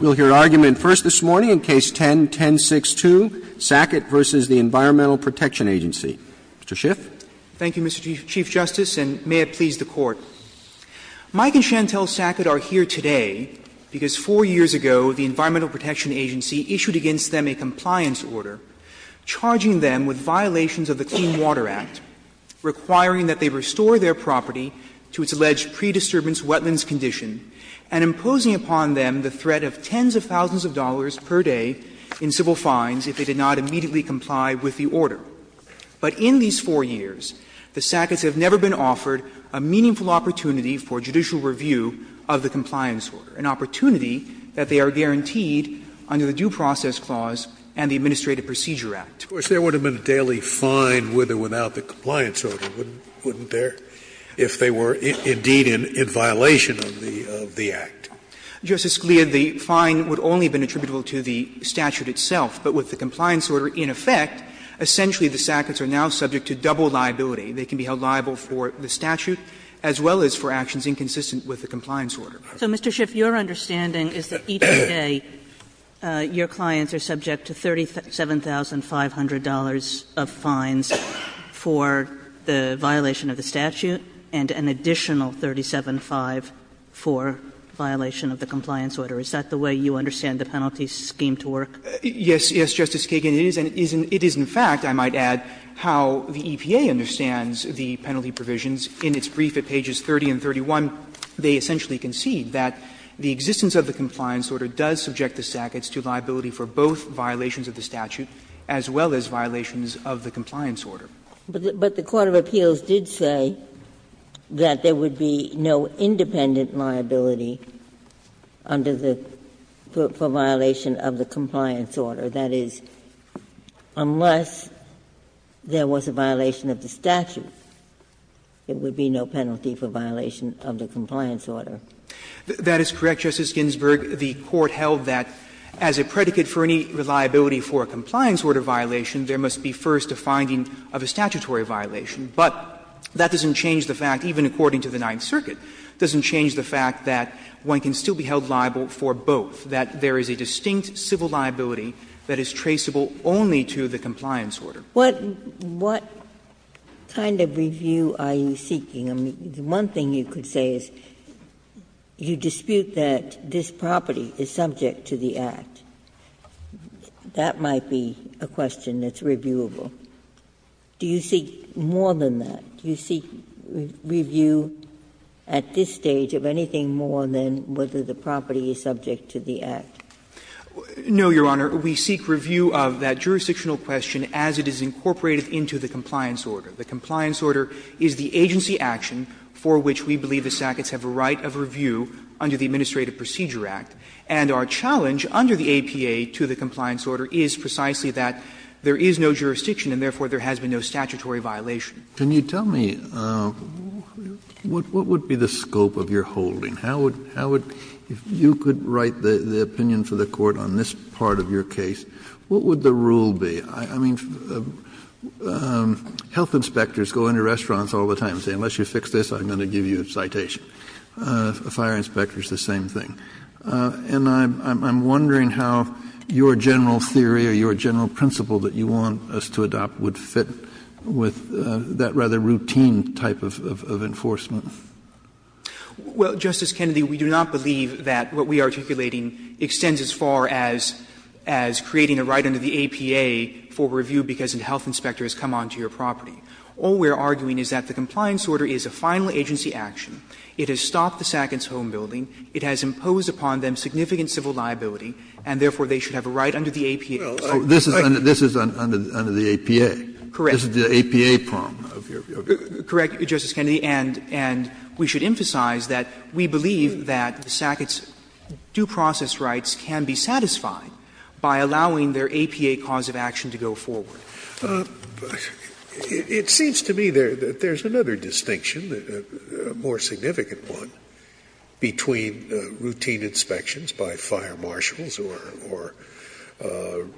We will hear argument first this morning in Case No. 10-1062, Sackett v. the Environmental Protection Agency. Mr. Schiff. Thank you, Mr. Chief Justice, and may it please the Court. Mike and Chantelle Sackett are here today because four years ago the Environmental Protection Agency issued against them a compliance order charging them with violations of the Clean Water Act, requiring that they restore their property to its alleged pre-disturbance wetlands condition, and imposing upon them the threat of tens of thousands of dollars per day in civil fines if they did not immediately comply with the order. But in these four years, the Sacketts have never been offered a meaningful opportunity for judicial review of the compliance order, an opportunity that they are guaranteed under the Due Process Clause and the Administrative Procedure Act. Scalia, of course, there would have been a daily fine with or without the compliance order, wouldn't there, if they were indeed in violation of the Act? Justice Scalia, the fine would only have been attributable to the statute itself. But with the compliance order in effect, essentially the Sacketts are now subject to double liability. They can be held liable for the statute as well as for actions inconsistent with the compliance order. So, Mr. Schiff, your understanding is that each day your clients are subject to $37,500 of fines for the violation of the statute and an additional $37,500 for violation of the compliance order. Is that the way you understand the penalty scheme to work? Yes. Yes, Justice Kagan, it is. And it is in fact, I might add, how the EPA understands the penalty provisions. In its brief at pages 30 and 31, they essentially concede that the existence of the compliance order does subject the Sacketts to liability for both violations of the statute as well as violations of the compliance order. But the Court of Appeals did say that there would be no independent liability under the for violation of the compliance order. That is, unless there was a violation of the statute, it would be no penalty for violation of the compliance order. That is correct, Justice Ginsburg. The Court held that as a predicate for any reliability for a compliance order violation, there must be first a finding of a statutory violation. But that doesn't change the fact, even according to the Ninth Circuit, doesn't change the fact that one can still be held liable for both, that there is a distinct civil liability that is traceable only to the compliance order. What kind of review are you seeking? I mean, the one thing you could say is you dispute that this property is subject to the Act. That might be a question that's reviewable. Do you seek more than that? Do you seek review at this stage of anything more than whether the property is subject to the Act? No, Your Honor. We seek review of that jurisdictional question as it is incorporated into the compliance order. The compliance order is the agency action for which we believe the sackets have a right of review under the Administrative Procedure Act. And our challenge under the APA to the compliance order is precisely that there is no jurisdiction and therefore there has been no statutory violation. Kennedy, tell me, what would be the scope of your holding? How would you write the opinion for the Court on this part of your case? What would the rule be? I mean, health inspectors go into restaurants all the time and say, unless you fix this, I'm going to give you a citation. Fire inspectors, the same thing. And I'm wondering how your general theory or your general principle that you want us to adopt would fit with that rather routine type of enforcement. Well, Justice Kennedy, we do not believe that what we are articulating extends as far as creating a right under the APA for review because a health inspector has come onto your property. All we are arguing is that the compliance order is a final agency action. It has stopped the sackets' home building. It has imposed upon them significant civil liability, and therefore they should have a right under the APA. Kennedy, this is under the APA. Correct. This is the APA problem of your view. Correct, Justice Kennedy. And we should emphasize that we believe that the sackets' due process rights can be satisfied by allowing their APA cause of action to go forward. It seems to me that there is another distinction, a more significant one, between routine inspections by fire marshals or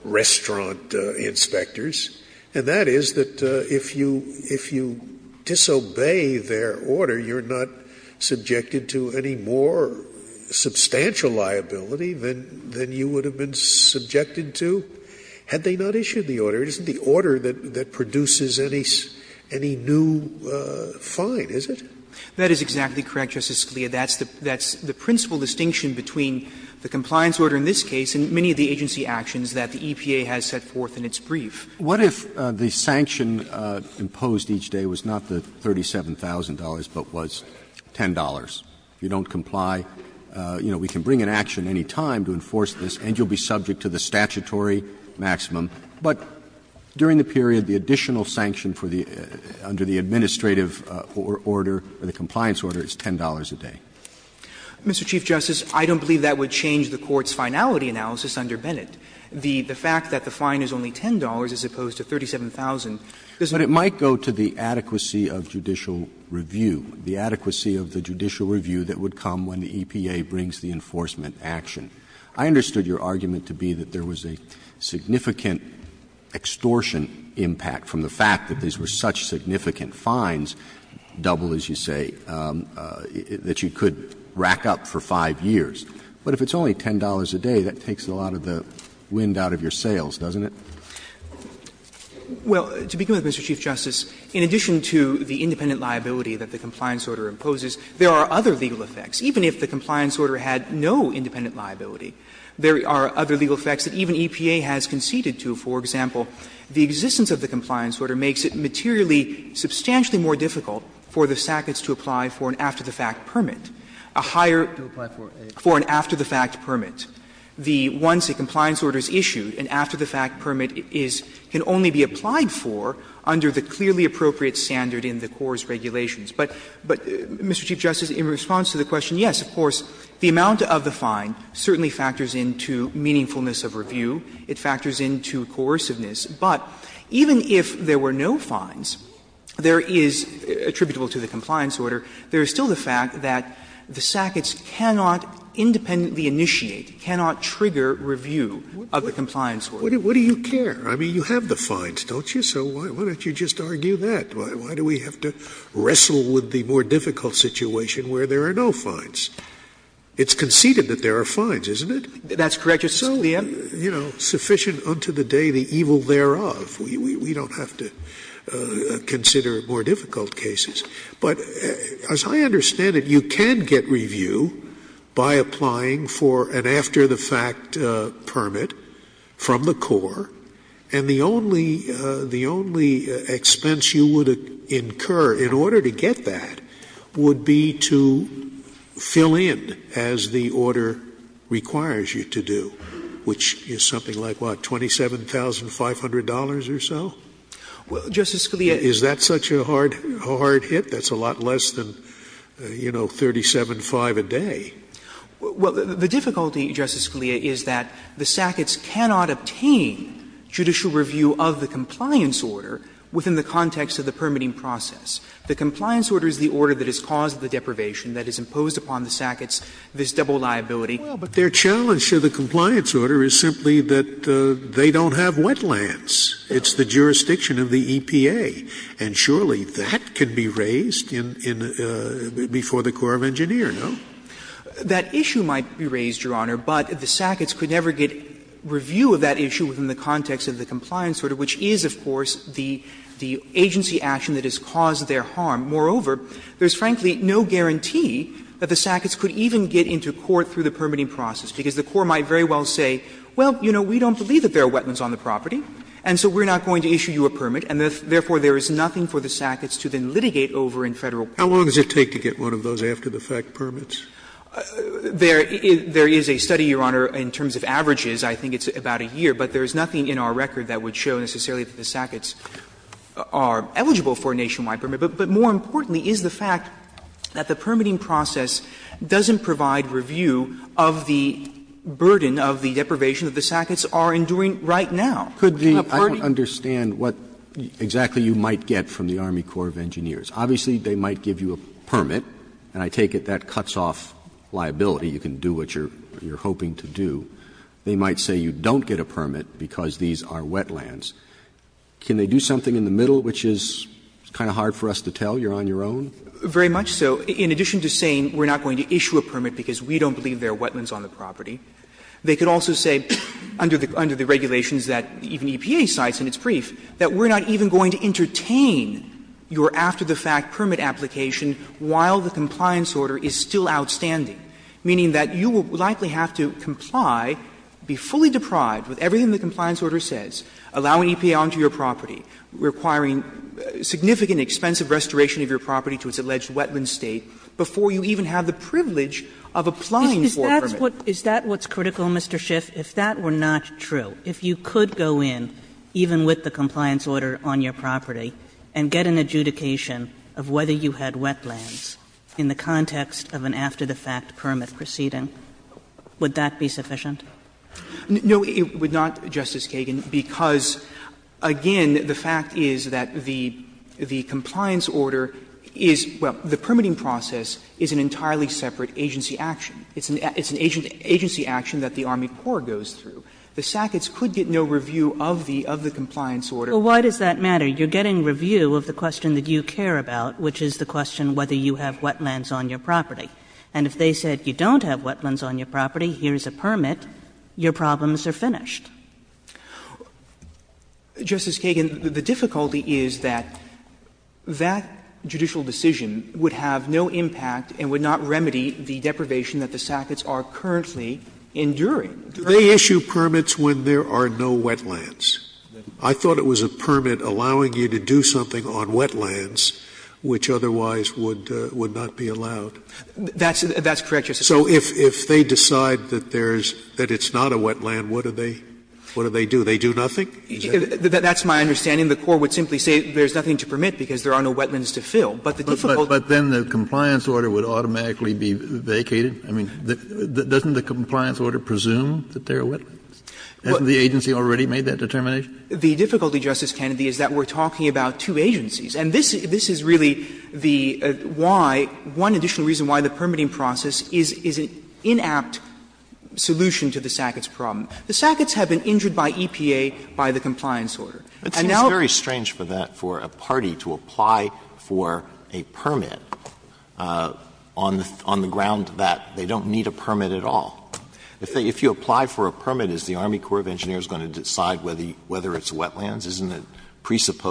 restaurant inspectors, and that is that if you disobey their order, you are not subjected to any more substantial liability than you would have been subjected to had they not issued the order. It isn't the order that produces any new fine, is it? That is exactly correct, Justice Scalia. That's the principal distinction between the compliance order in this case and many of the agency actions that the EPA has set forth in its brief. What if the sanction imposed each day was not the $37,000, but was $10? If you don't comply, you know, we can bring an action any time to enforce this, and you will be subject to the statutory maximum. But during the period, the additional sanction for the under the administrative order, or the compliance order, is $10 a day. Mr. Chief Justice, I don't believe that would change the Court's finality analysis under Bennett. The fact that the fine is only $10 as opposed to $37,000 doesn't change it. But it might go to the adequacy of judicial review, the adequacy of the judicial review that would come when the EPA brings the enforcement action. I understood your argument to be that there was a significant extortion impact from the fact that these were such significant fines, double as you say, that you could rack up for 5 years. But if it's only $10 a day, that takes a lot of the wind out of your sails, doesn't it? Well, to begin with, Mr. Chief Justice, in addition to the independent liability that the compliance order imposes, there are other legal effects. Even if the compliance order had no independent liability, there are other legal effects that even EPA has conceded to. For example, the existence of the compliance order makes it materially substantially more difficult for the SACCOTS to apply for an after-the-fact permit, a higher to apply for a For an after-the-fact permit. Once a compliance order is issued, an after-the-fact permit can only be applied for under the clearly appropriate standard in the core's regulations. But, Mr. Chief Justice, in response to the question, yes, of course, the amount of the fine certainly factors into meaningfulness of review. It factors into coerciveness. But even if there were no fines, there is, attributable to the compliance order, there is still the fact that the SACCOTS cannot independently initiate, cannot trigger review of the compliance order. Scalia What do you care? I mean, you have the fines, don't you? So why don't you just argue that? Why do we have to wrestle with the more difficult situation where there are no fines? It's conceded that there are fines, isn't it? That's correct, Justice Scalia. So, you know, sufficient unto the day the evil thereof. We don't have to consider more difficult cases. But as I understand it, you can get review by applying for an after-the-fact permit from the core, and the only expense you would incur in order to get that would be to fill in as the order requires you to do, which is something like, what, $27,500 or so? Well, Justice Scalia Is that such a hard hit? That's a lot less than, you know, $37,500 a day. Well, the difficulty, Justice Scalia, is that the SACCOTS cannot obtain judicial review of the compliance order within the context of the permitting process. The compliance order is the order that has caused the deprivation that is imposed upon the SACCOTS, this double liability. Well, but their challenge to the compliance order is simply that they don't have wetlands. It's the jurisdiction of the EPA. And surely that can be raised before the Corps of Engineers, no? That issue might be raised, Your Honor, but the SACCOTS could never get review of that issue within the context of the compliance order, which is, of course, the agency action that has caused their harm. Moreover, there is, frankly, no guarantee that the SACCOTS could even get into court through the permitting process, because the Corps might very well say, well, you know, we don't believe that there are wetlands on the property, and so we're not going to issue you a permit, and therefore, there is nothing for the SACCOTS to then litigate over in Federal court. How long does it take to get one of those after-the-fact permits? There is a study, Your Honor, in terms of averages. I think it's about a year. But there is nothing in our record that would show necessarily that the SACCOTS are eligible for a nationwide permit. But more importantly is the fact that the permitting process doesn't provide review of the burden of the deprivation that the SACCOTS are enduring right now. Roberts I don't understand what exactly you might get from the Army Corps of Engineers. Obviously, they might give you a permit, and I take it that cuts off liability. You can do what you're hoping to do. They might say you don't get a permit because these are wetlands. Can they do something in the middle, which is kind of hard for us to tell? You're on your own? Very much so. In addition to saying we're not going to issue a permit because we don't believe there are wetlands on the property, they could also say under the regulations that even EPA cites in its brief that we're not even going to entertain your after-the-fact permit application while the compliance order is still outstanding, meaning that you will likely have to comply, be fully deprived with everything the compliance order says, allowing EPA onto your property, requiring significant expensive restoration of your property to its alleged wetland state before you even have the privilege of applying for a permit. Kagan. Is that what's critical, Mr. Schiff? If that were not true, if you could go in, even with the compliance order on your property, and get an adjudication of whether you had wetlands in the context of an after-the-fact permit proceeding, would that be sufficient? No, it would not, Justice Kagan, because, again, the fact is that the compliance order is, well, the permitting process is an entirely separate agency action. It's an agency action that the Army Corps goes through. The SACCOTS could get no review of the compliance order. Well, why does that matter? You're getting review of the question that you care about, which is the question whether you have wetlands on your property. And if they said you don't have wetlands on your property, here's a permit, your problems are finished. Justice Kagan, the difficulty is that that judicial decision would have no impact and would not remedy the deprivation that the SACCOTS are currently enduring. Do they issue permits when there are no wetlands? I thought it was a permit allowing you to do something on wetlands, which otherwise would not be allowed. That's correct, Justice Scalia. So if they decide that there's not a wetland, what do they do? They do nothing? That's my understanding. The Corps would simply say there's nothing to permit because there are no wetlands to fill. But the difficulty is that there are no wetlands. Kennedy, but then the compliance order would automatically be vacated? I mean, doesn't the compliance order presume that there are wetlands? Hasn't the agency already made that determination? The difficulty, Justice Kennedy, is that we're talking about two agencies. And this is really the why, one additional reason why the permitting process is an inapt solution to the SACCOTS problem. The SACCOTS have been injured by EPA by the compliance order. And now the SACCOTS have been injured by EPA by the compliance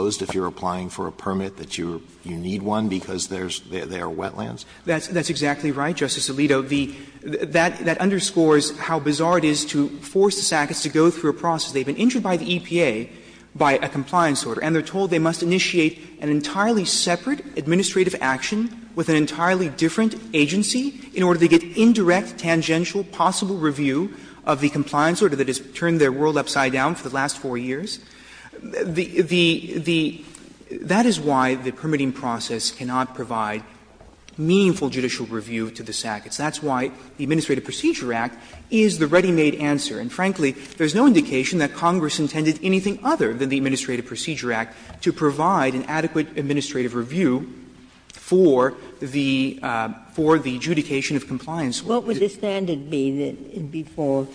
order. Alito, that underscores how bizarre it is to force the SACCOTS to go through a process. They've been injured by the EPA by a compliance order. And they're told they must initiate an entirely separate administrative action with an entirely different agency in order to get indirect, tangential, possible review of the compliance order that has turned their world upside down for the last four years. The — that is why the permitting process cannot provide meaningful judicial review to the SACCOTS. That's why the Administrative Procedure Act is the ready-made answer. And frankly, there's no indication that Congress intended anything other than the Administrative Procedure Act to provide an adequate administrative review for the adjudication of compliance. Ginsburg. What would the standard be before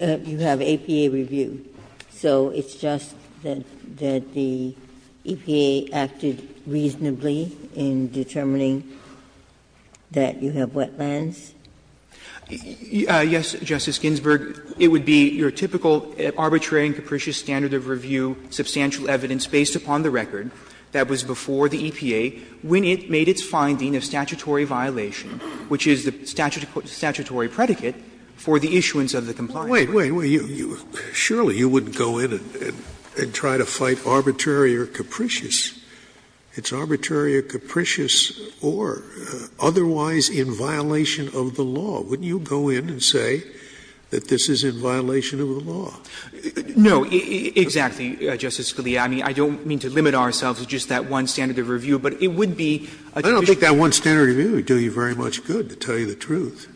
you have EPA review? So it's just that the EPA acted reasonably in determining that you have wetlands? Yes, Justice Ginsburg. It would be your typical arbitrary and capricious standard of review, substantial evidence based upon the record that was before the EPA, when it made its finding of statutory violation, which is the statutory predicate for the issuance of the compliance order. Scalia, surely you wouldn't go in and try to fight arbitrary or capricious. It's arbitrary or capricious or otherwise in violation of the law. Wouldn't you go in and say that this is in violation of the law? No, exactly, Justice Scalia. I mean, I don't mean to limit ourselves to just that one standard of review, but it would be a judicial review. I don't think that one standard of review would do you very much good, to tell you the truth.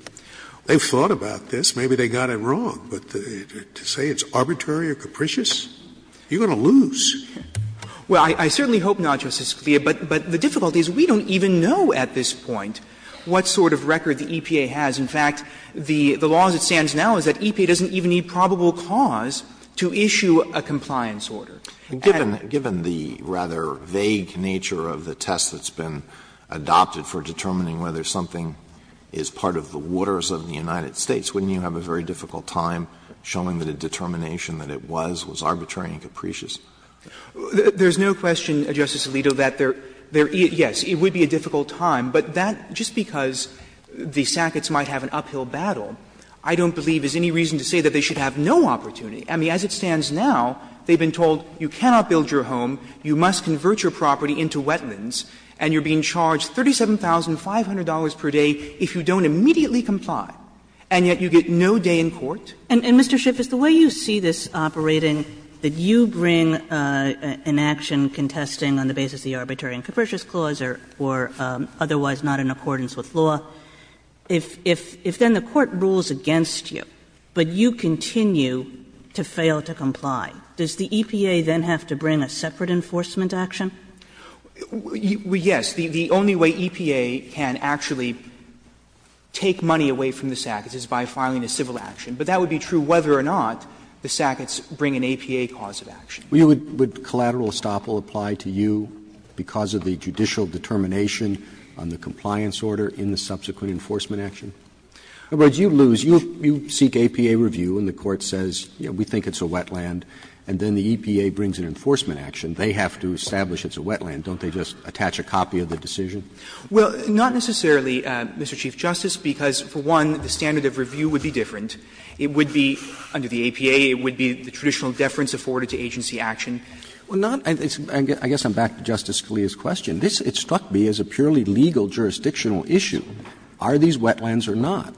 They've thought about this. Maybe they got it wrong. But to say it's arbitrary or capricious, you're going to lose. Well, I certainly hope not, Justice Scalia. But the difficulty is we don't even know at this point what sort of record the EPA has. In fact, the law as it stands now is that EPA doesn't even need probable cause And the fact that it's arbitrary or capricious is a very difficult time to show. Alito, given the rather vague nature of the test that's been adopted for determining whether something is part of the waters of the United States, wouldn't you have a very difficult time? There's no question, Justice Alito, that there is, yes, it would be a difficult time. But that, just because the Sacketts might have an uphill battle, I don't believe there's any reason to say that they should have no opportunity. I mean, as it stands now, they've been told you cannot build your home, you must convert your property into wetlands, and you're being charged $37,500 per day if you don't immediately comply, and yet you get no day in court. And, Mr. Schiff, is the way you see this operating, that you bring an action contesting on the basis of the Arbitrary and Capricious Clause or otherwise not in accordance with law, if then the court rules against you, but you continue to fail to comply, does the EPA then have to bring a separate enforcement action? Yes. The only way EPA can actually take money away from the Sacketts is by filing a civil action, but that would be true whether or not the Sacketts bring an APA cause of action. Would collateral estoppel apply to you because of the judicial determination on the compliance order in the subsequent enforcement action? In other words, you lose, you seek APA review, and the court says, you know, we think it's a wetland, and then the EPA brings an enforcement action. They have to establish it's a wetland. Don't they just attach a copy of the decision? Well, not necessarily, Mr. Chief Justice, because, for one, the standard of review would be different. It would be, under the APA, it would be the traditional deference afforded to agency action. Well, not – I guess I'm back to Justice Scalia's question. It struck me as a purely legal jurisdictional issue. Are these wetlands or not?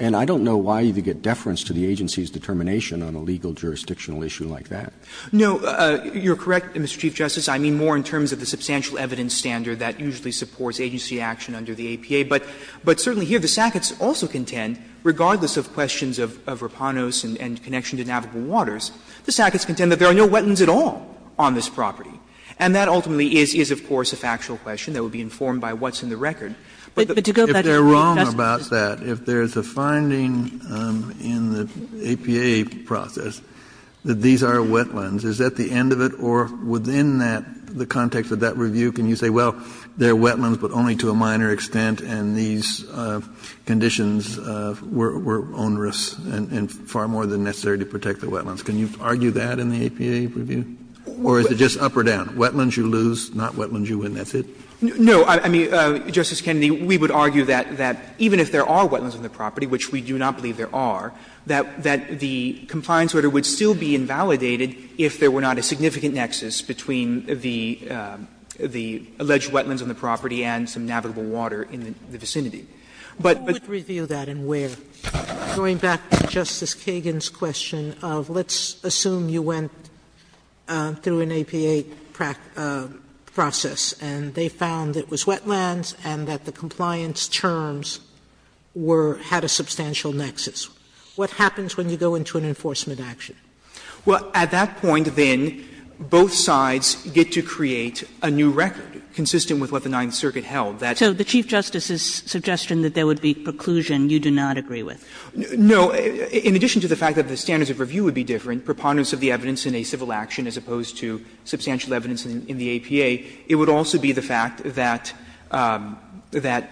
And I don't know why you would get deference to the agency's determination on a legal jurisdictional issue like that. No, you're correct, Mr. Chief Justice. I mean more in terms of the substantial evidence standard that usually supports agency action under the APA. But certainly here, the Sacketts also contend, regardless of questions of Rapanos and connection to navigable waters, the Sacketts contend that there are no wetlands at all on this property. And that ultimately is, of course, a factual question that would be informed by what's in the record. But to go back to the Chief Justice's question. Kennedy, if they're wrong about that, if there's a finding in the APA process that these are wetlands, is that the end of it? Or within that, the context of that review, can you say, well, they're wetlands but only to a minor extent, and these conditions were onerous and far more than necessary to protect the wetlands? Can you argue that in the APA review? Or is it just up or down? Wetlands you lose, not wetlands you win. That's it? No. I mean, Justice Kennedy, we would argue that even if there are wetlands on the property, which we do not believe there are, that the compliance order would still be invalidated if there were not a significant nexus between the alleged wetlands on the property and some navigable water in the vicinity. But, but. Sotomayor, who would review that and where? Going back to Justice Kagan's question of let's assume you went through an APA process and they found it was wetlands and that the compliance terms were at a substantial nexus. What happens when you go into an enforcement action? Well, at that point, then, both sides get to create a new record consistent with what the Ninth Circuit held. That's. So the Chief Justice's suggestion that there would be preclusion you do not agree with. No. In addition to the fact that the standards of review would be different, preponderance of the evidence in a civil action as opposed to substantial evidence in the APA, it would also be the fact that, that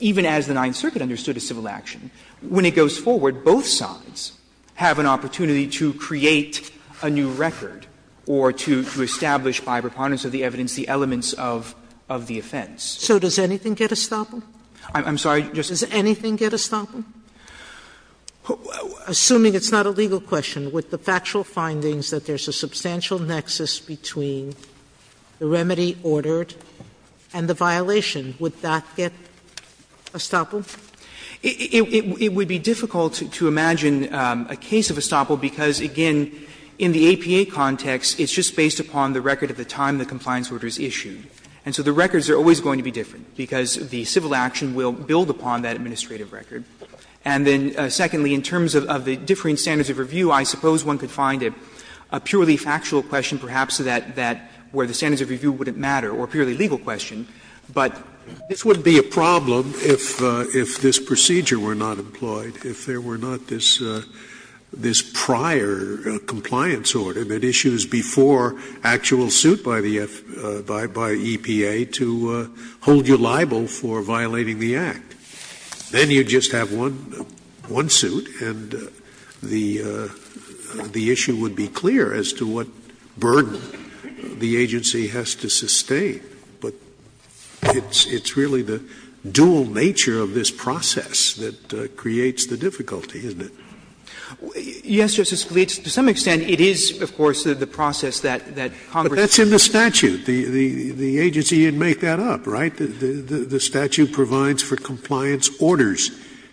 even as the Ninth Circuit understood a civil action, when it goes forward, both sides have an opportunity to create a new record or to establish by preponderance of the evidence the elements of the civil action of the offense. So does anything get estoppel? I'm sorry, Justice. Does anything get estoppel? Assuming it's not a legal question, would the factual findings that there's a substantial nexus between the remedy ordered and the violation, would that get estoppel? It would be difficult to imagine a case of estoppel because, again, in the APA context, it's just based upon the record of the time the compliance order is issued. And so the records are always going to be different because the civil action will build upon that administrative record. And then, secondly, in terms of the differing standards of review, I suppose one could find a purely factual question, perhaps, that where the standards of review wouldn't matter, or a purely legal question. But this would be a problem if this procedure were not employed, if there were not this prior compliance order that issues before actual suit by the EPA to hold you liable for violating the act. Then you just have one suit, and the issue would be clear as to what burden the agency has to sustain. Scalia, but it's really the dual nature of this process that creates the difficulty, isn't it? Yes, Justice Scalia, to some extent it is, of course, the process that Congress But that's in the statute. The agency would make that up, right? The statute provides for compliance orders,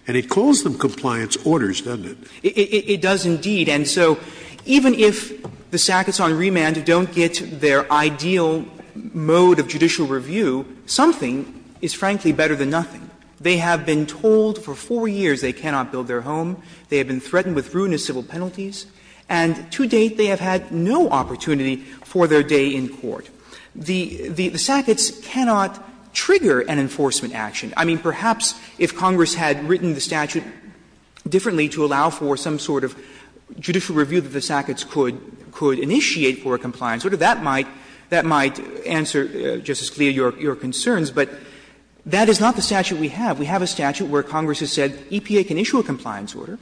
and it calls them compliance orders, doesn't it? It does indeed. And so even if the sackets on remand don't get their ideal mode of judicial review, something is frankly better than nothing. They have been told for four years they cannot build their home. They have been threatened with ruinous civil penalties. And to date, they have had no opportunity for their day in court. The sackets cannot trigger an enforcement action. I mean, perhaps if Congress had written the statute differently to allow for some sort of judicial review that the sackets could initiate for a compliance order, that might answer, Justice Scalia, your concerns. But that is not the statute we have. We have a statute where Congress has said EPA can issue a compliance order,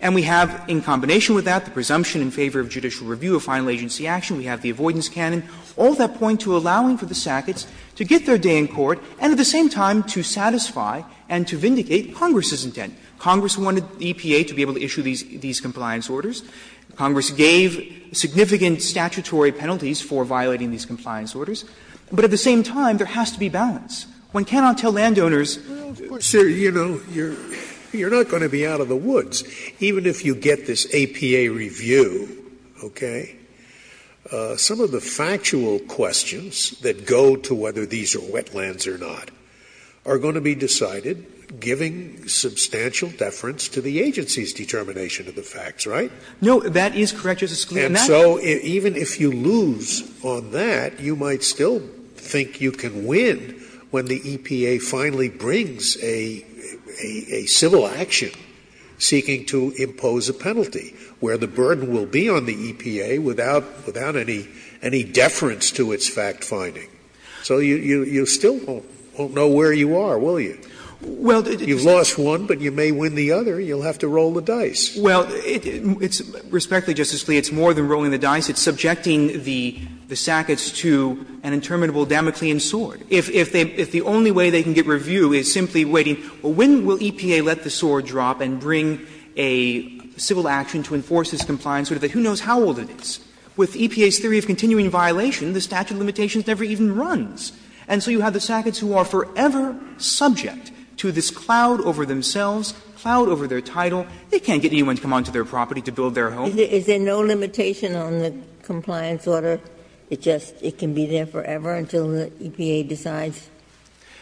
and we have in combination with that the presumption in favor of judicial review of final agency action. We have the avoidance canon, all that point to allowing for the sackets to get their day in court, and at the same time to satisfy and to vindicate Congress's intent. Congress wanted EPA to be able to issue these compliance orders. Congress gave significant statutory penalties for violating these compliance orders. But at the same time, there has to be balance. One cannot tell landowners, of course, you know, you are not going to be out of the woods. Even if you get this APA review, okay, some of the factual questions that go to whether these are wetlands or not are going to be decided, giving substantial deference to the agency's determination of the facts, right? No, that is correct, Justice Scalia. And so even if you lose on that, you might still think you can win when the EPA finally brings a civil action seeking to impose a penalty, where the burden will be on the EPA without any deference to its fact-finding. So you still won't know where you are, will you? You've lost one, but you may win the other. You'll have to roll the dice. Well, it's – respectfully, Justice Scalia, it's more than rolling the dice. It's subjecting the sackets to an interminable Damoclean sword. If the only way they can get review is simply waiting, well, when will EPA let the sword drop and bring a civil action to enforce this compliance order? Who knows how old it is? With EPA's theory of continuing violation, the statute of limitations never even runs. And so you have the sackets who are forever subject to this cloud over themselves, cloud over their title. They can't get anyone to come onto their property to build their home. Ginsburg. Is there no limitation on the compliance order? It just – it can be there forever until the EPA decides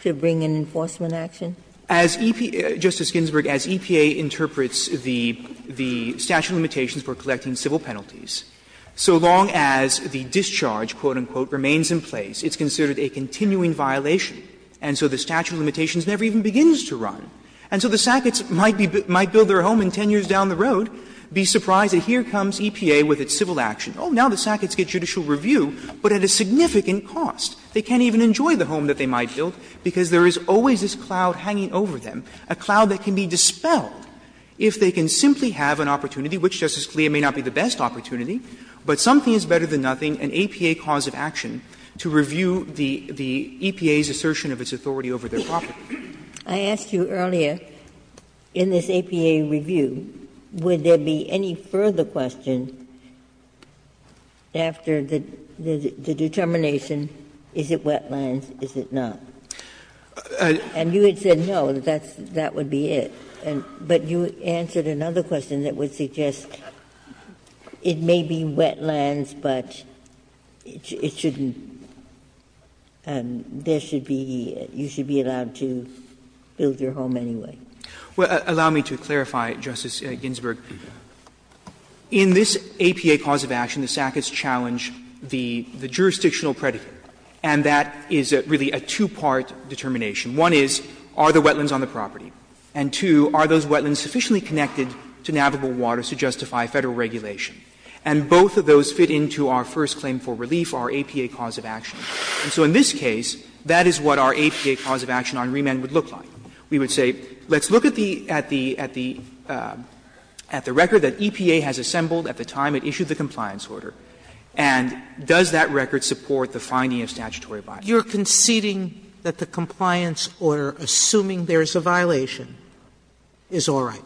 to bring an enforcement action? As EPA – Justice Ginsburg, as EPA interprets the statute of limitations for collecting civil penalties, so long as the discharge, quote, unquote, remains in place, it's considered a continuing violation. And so the statute of limitations never even begins to run. And so the sackets might be – might build their home in 10 years down the road, be surprised that here comes EPA with its civil action. Oh, now the sackets get judicial review, but at a significant cost. They can't even enjoy the home that they might build because there is always this cloud hanging over them, a cloud that can be dispelled if they can simply have an opportunity. Obviously, it may not be the best opportunity, but something is better than nothing an APA cause of action to review the EPA's assertion of its authority over their property. Ginsburg, I asked you earlier, in this APA review, would there be any further question after the determination, is it wetlands, is it not? And you had said no, that's – that would be it. But you answered another question that would suggest it may be wetlands, but it shouldn't – there should be – you should be allowed to build your home anyway. Well, allow me to clarify, Justice Ginsburg. In this APA cause of action, the sackets challenge the jurisdictional predicate, and that is really a two-part determination. One is, are the wetlands on the property? And two, are those wetlands sufficiently connected to navigable waters to justify Federal regulation? And both of those fit into our first claim for relief, our APA cause of action. And so in this case, that is what our APA cause of action on remand would look like. We would say, let's look at the – at the record that EPA has assembled at the time it issued the compliance order, and does that record support the finding of statutory bias? Sotomayor, you're conceding that the compliance order, assuming there is a violation, is all right?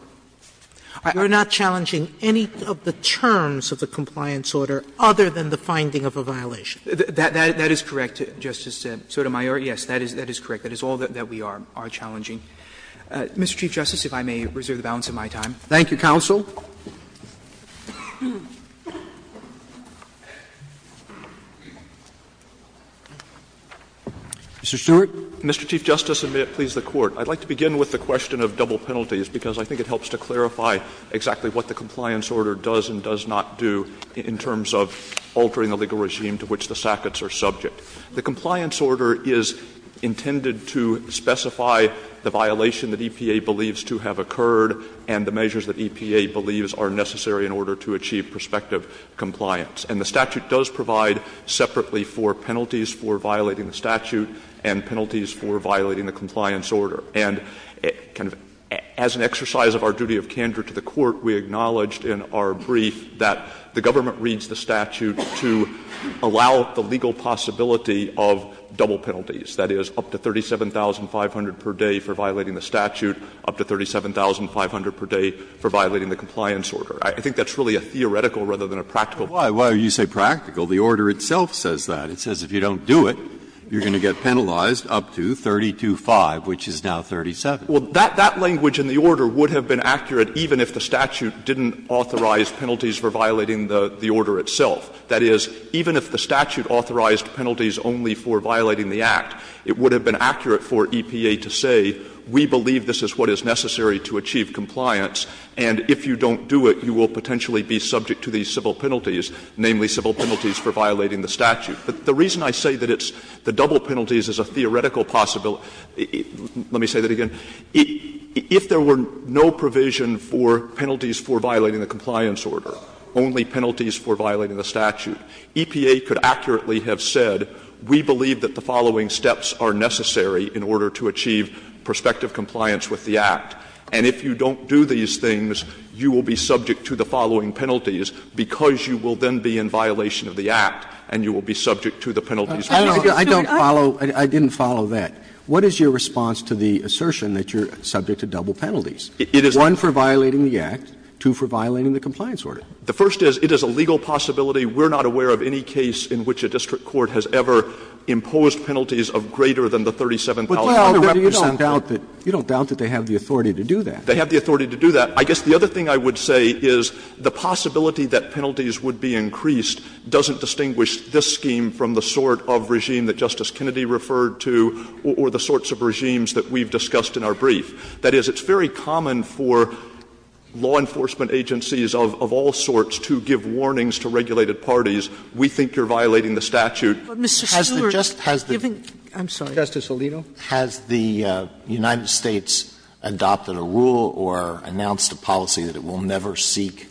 You're not challenging any of the terms of the compliance order other than the finding of a violation? That is correct, Justice Sotomayor. Yes, that is correct. That is all that we are challenging. Mr. Chief Justice, if I may reserve the balance of my time. Thank you, counsel. Mr. Stewart. Mr. Chief Justice, and may it please the Court, I'd like to begin with the question of double penalties, because I think it helps to clarify exactly what the compliance order does and does not do in terms of altering the legal regime to which the SACOTs are subject. The compliance order is intended to specify the violation that EPA believes to have or believes are necessary in order to achieve prospective compliance. And the statute does provide separately for penalties for violating the statute and penalties for violating the compliance order. And as an exercise of our duty of candor to the Court, we acknowledged in our brief that the government reads the statute to allow the legal possibility of double penalties, that is, up to $37,500 per day for violating the statute, up to $37,500 per day for violating the compliance order. I think that's really a theoretical rather than a practical. Breyer, why do you say practical? The order itself says that. It says if you don't do it, you're going to get penalized up to 325, which is now 37. Well, that language in the order would have been accurate even if the statute didn't authorize penalties for violating the order itself. That is, even if the statute authorized penalties only for violating the Act, it would have been accurate for EPA to say, we believe this is what is necessary to achieve compliance, and if you don't do it, you will potentially be subject to these civil penalties, namely civil penalties for violating the statute. But the reason I say that it's the double penalties is a theoretical possibility – let me say that again. If there were no provision for penalties for violating the compliance order, only penalties for violating the statute, EPA could accurately have said, we believe that the following steps are necessary in order to achieve prospective compliance with the Act, and if you don't do these things, you will be subject to the following penalties, because you will then be in violation of the Act, and you will be subject to the penalties. Roberts, I don't follow – I didn't follow that. What is your response to the assertion that you're subject to double penalties? One for violating the Act, two for violating the compliance order? The first is, it is a legal possibility. We're not aware of any case in which a district court has ever imposed penalties of greater than the 37,000. Roberts, you don't doubt that they have the authority to do that. They have the authority to do that. I guess the other thing I would say is the possibility that penalties would be increased doesn't distinguish this scheme from the sort of regime that Justice Kennedy referred to or the sorts of regimes that we've discussed in our brief. That is, it's very common for law enforcement agencies of all sorts to give warnings to regulated parties, we think you're violating the statute. Sotomayor, given – I'm sorry. Roberts, Justice Alito. Has the United States adopted a rule or announced a policy that it will never seek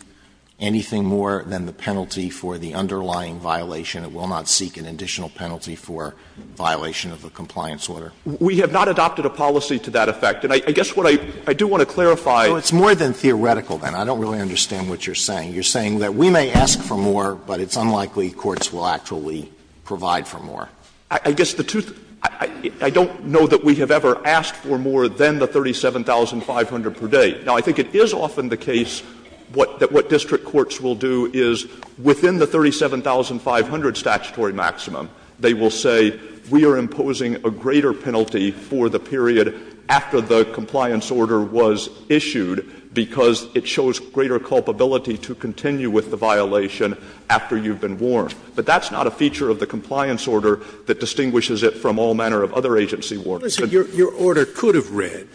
anything more than the penalty for the underlying violation? It will not seek an additional penalty for violation of the compliance order. We have not adopted a policy to that effect. And I guess what I do want to clarify is – It's more than theoretical, then. I don't really understand what you're saying. You're saying that we may ask for more, but it's unlikely courts will actually provide for more. I guess the two – I don't know that we have ever asked for more than the 37,500 per day. Now, I think it is often the case that what district courts will do is within the 37,500 statutory maximum, they will say we are imposing a greater penalty for the period after the compliance order was issued because it shows greater culpability to continue with the violation after you've been warned. But that's not a feature of the compliance order that distinguishes it from all manner of other agency warnings. Scalia. Your order could have read,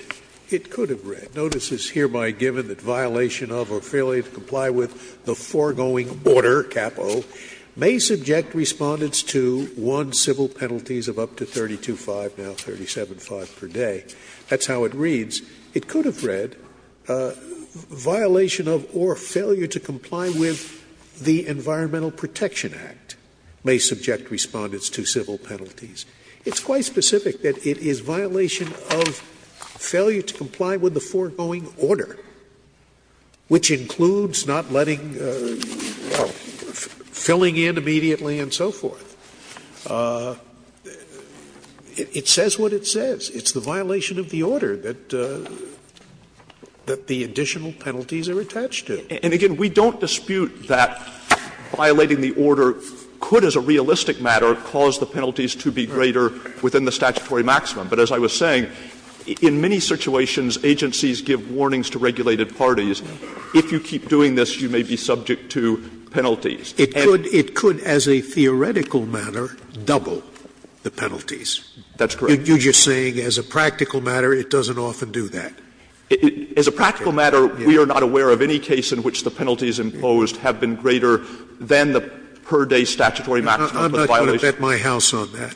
it could have read, notice is hereby given that violation of or failure to comply with the foregoing order, capo, may subject Respondents to one civil penalties of up to 32,500, now 37,500 per day. That's how it reads. It could have read violation of or failure to comply with the Environmental Protection Act may subject Respondents to civil penalties. It's quite specific that it is violation of failure to comply with the foregoing order, which includes not letting – filling in immediately and so forth. It says what it says. It's the violation of the order that the additional penalties are attached to. Stewart. And again, we don't dispute that violating the order could as a realistic matter cause the penalties to be greater within the statutory maximum. But as I was saying, in many situations, agencies give warnings to regulated parties, if you keep doing this, you may be subject to penalties. Scalia. It could, as a theoretical matter, double the penalties. Stewart. That's correct. Scalia. You're just saying as a practical matter, it doesn't often do that. Stewart. As a practical matter, we are not aware of any case in which the penalties imposed have been greater than the per day statutory maximum for the violation. Scalia. I'm not going to bet my house on that.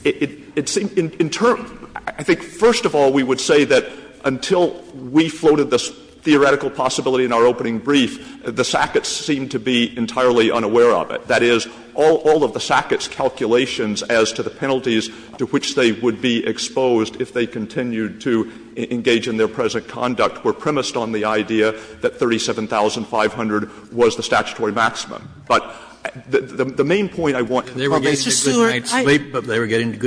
Stewart. It seems in terms – I think first of all, we would say that until we floated this theoretical possibility in our opening brief, the Sacketts seemed to be entirely unaware of it. That is, all of the Sacketts' calculations as to the penalties to which they would be exposed if they continued to engage in their present conduct were premised on the idea that 37,500 was the statutory maximum. But the main point I want to make is that the Sacketts' calculations were premised on the idea that 37,500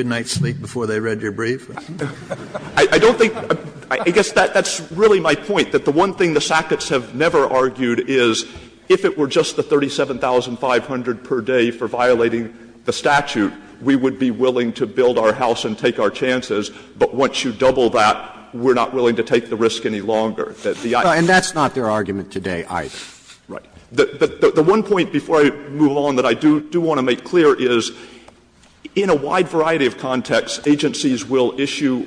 was the statutory maximum. The point that the one thing the Sacketts have never argued is, if it were just the 37,500 per day for violating the statute, we would be willing to build our house and take our chances, but once you double that, we're not willing to take the risk any longer. And that's not their argument today either. Right. The one point before I move on that I do want to make clear is, in a wide variety of contexts, agencies will issue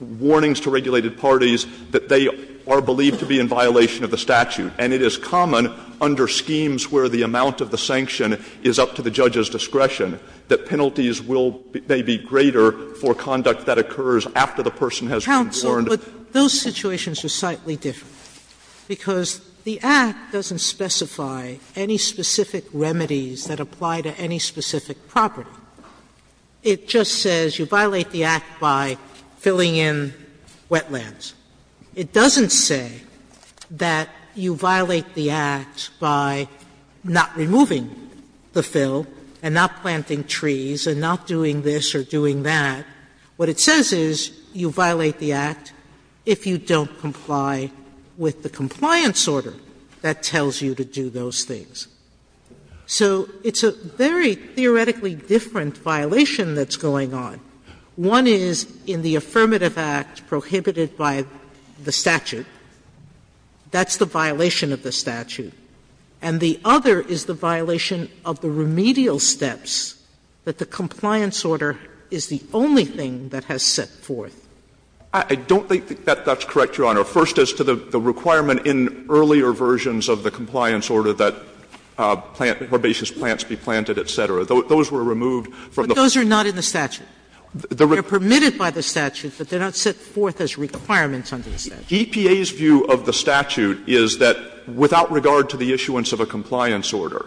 warnings to regulated parties that they are believed to be in violation of the statute. And it is common under schemes where the amount of the sanction is up to the judge's discretion that penalties will be greater for conduct that occurs after the person has been warned. Sotomayor, but those situations are slightly different, because the Act doesn't specify any specific remedies that apply to any specific property. It just says you violate the Act by filling in wetlands. It doesn't say that you violate the Act by not removing the fill and not planting trees and not doing this or doing that. What it says is you violate the Act if you don't comply with the compliance order that tells you to do those things. So it's a very theoretically different violation that's going on. One is in the affirmative act prohibited by the statute. That's the violation of the statute. And the other is the violation of the remedial steps that the compliance order is the only thing that has set forth. I don't think that that's correct, Your Honor. First, as to the requirement in earlier versions of the compliance order that plant or herbaceous plants be planted, et cetera, those were removed from the statute. Sotomayor, but those are not in the statute. They're permitted by the statute, but they're not set forth as requirements under the statute. EPA's view of the statute is that without regard to the issuance of a compliance order,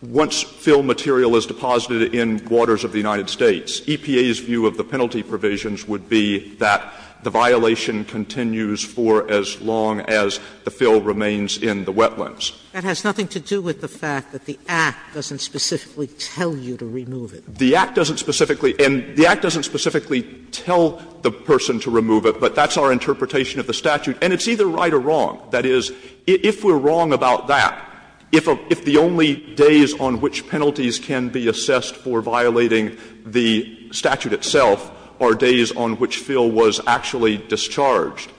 once fill material is deposited in waters of the United States, EPA's view of the penalty provisions would be that the violation continues for as long as the fill remains in the wetlands. Sotomayor, that has nothing to do with the fact that the Act doesn't specifically tell you to remove it. The Act doesn't specifically and the Act doesn't specifically tell the person to remove it, but that's our interpretation of the statute. And it's either right or wrong. That is, if we're wrong about that, if the only days on which penalties can be assessed for violating the statute itself are days on which fill was actually discharged,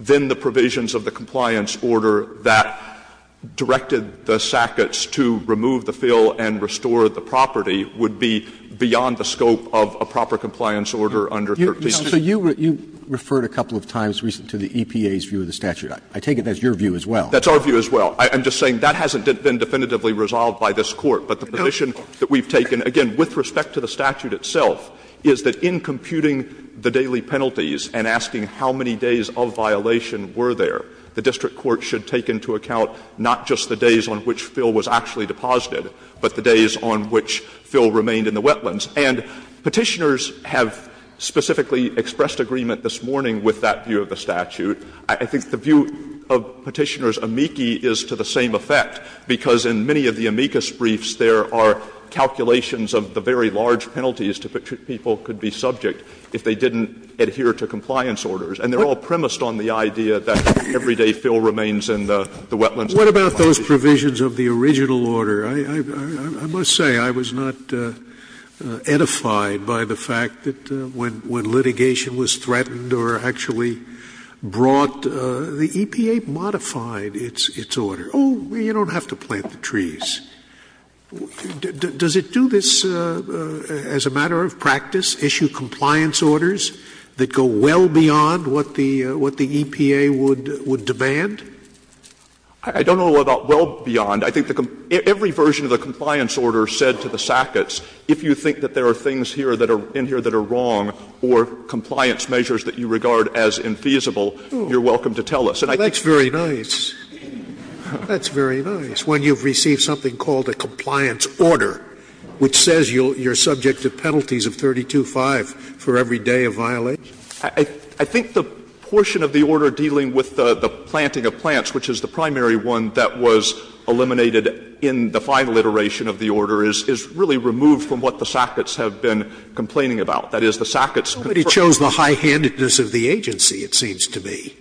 then the provisions of the compliance order that directed the Sacketts to remove the fill and restore the property would be beyond the scope of a proper compliance order under 136. Roberts, you referred a couple of times recently to the EPA's view of the statute. I take it that's your view as well. That's our view as well. I'm just saying that hasn't been definitively resolved by this Court. But the position that we've taken, again, with respect to the statute itself, is that in computing the daily penalties and asking how many days of violation were there, the district court should take into account not just the days on which fill was actually deposited, but the days on which fill remained in the wetlands. And Petitioners have specifically expressed agreement this morning with that view of the statute. I think the view of Petitioner's amici is to the same effect, because in many of the cases there are calculations of the very large penalties to which people could be subject if they didn't adhere to compliance orders. And they're all premised on the idea that every day fill remains in the wetlands. Scalia, what about those provisions of the original order? I must say, I was not edified by the fact that when litigation was threatened or actually brought, the EPA modified its order. Oh, you don't have to plant the trees. Does it do this as a matter of practice, issue compliance orders that go well beyond what the EPA would demand? I don't know about well beyond. I think every version of the compliance order said to the sackets, if you think that there are things here that are in here that are wrong or compliance measures that you regard as infeasible, you're welcome to tell us. And I think that's very nice. That's very nice, when you've received something called a compliance order, which says you're subject to penalties of 32-5 for every day of violation. I think the portion of the order dealing with the planting of plants, which is the primary one that was eliminated in the final iteration of the order, is really removed from what the sackets have been complaining about. That is, the sackets confirm that there are things that are in here that are inappropriate. Nobody chose the high-handedness of the agency, it seems to me,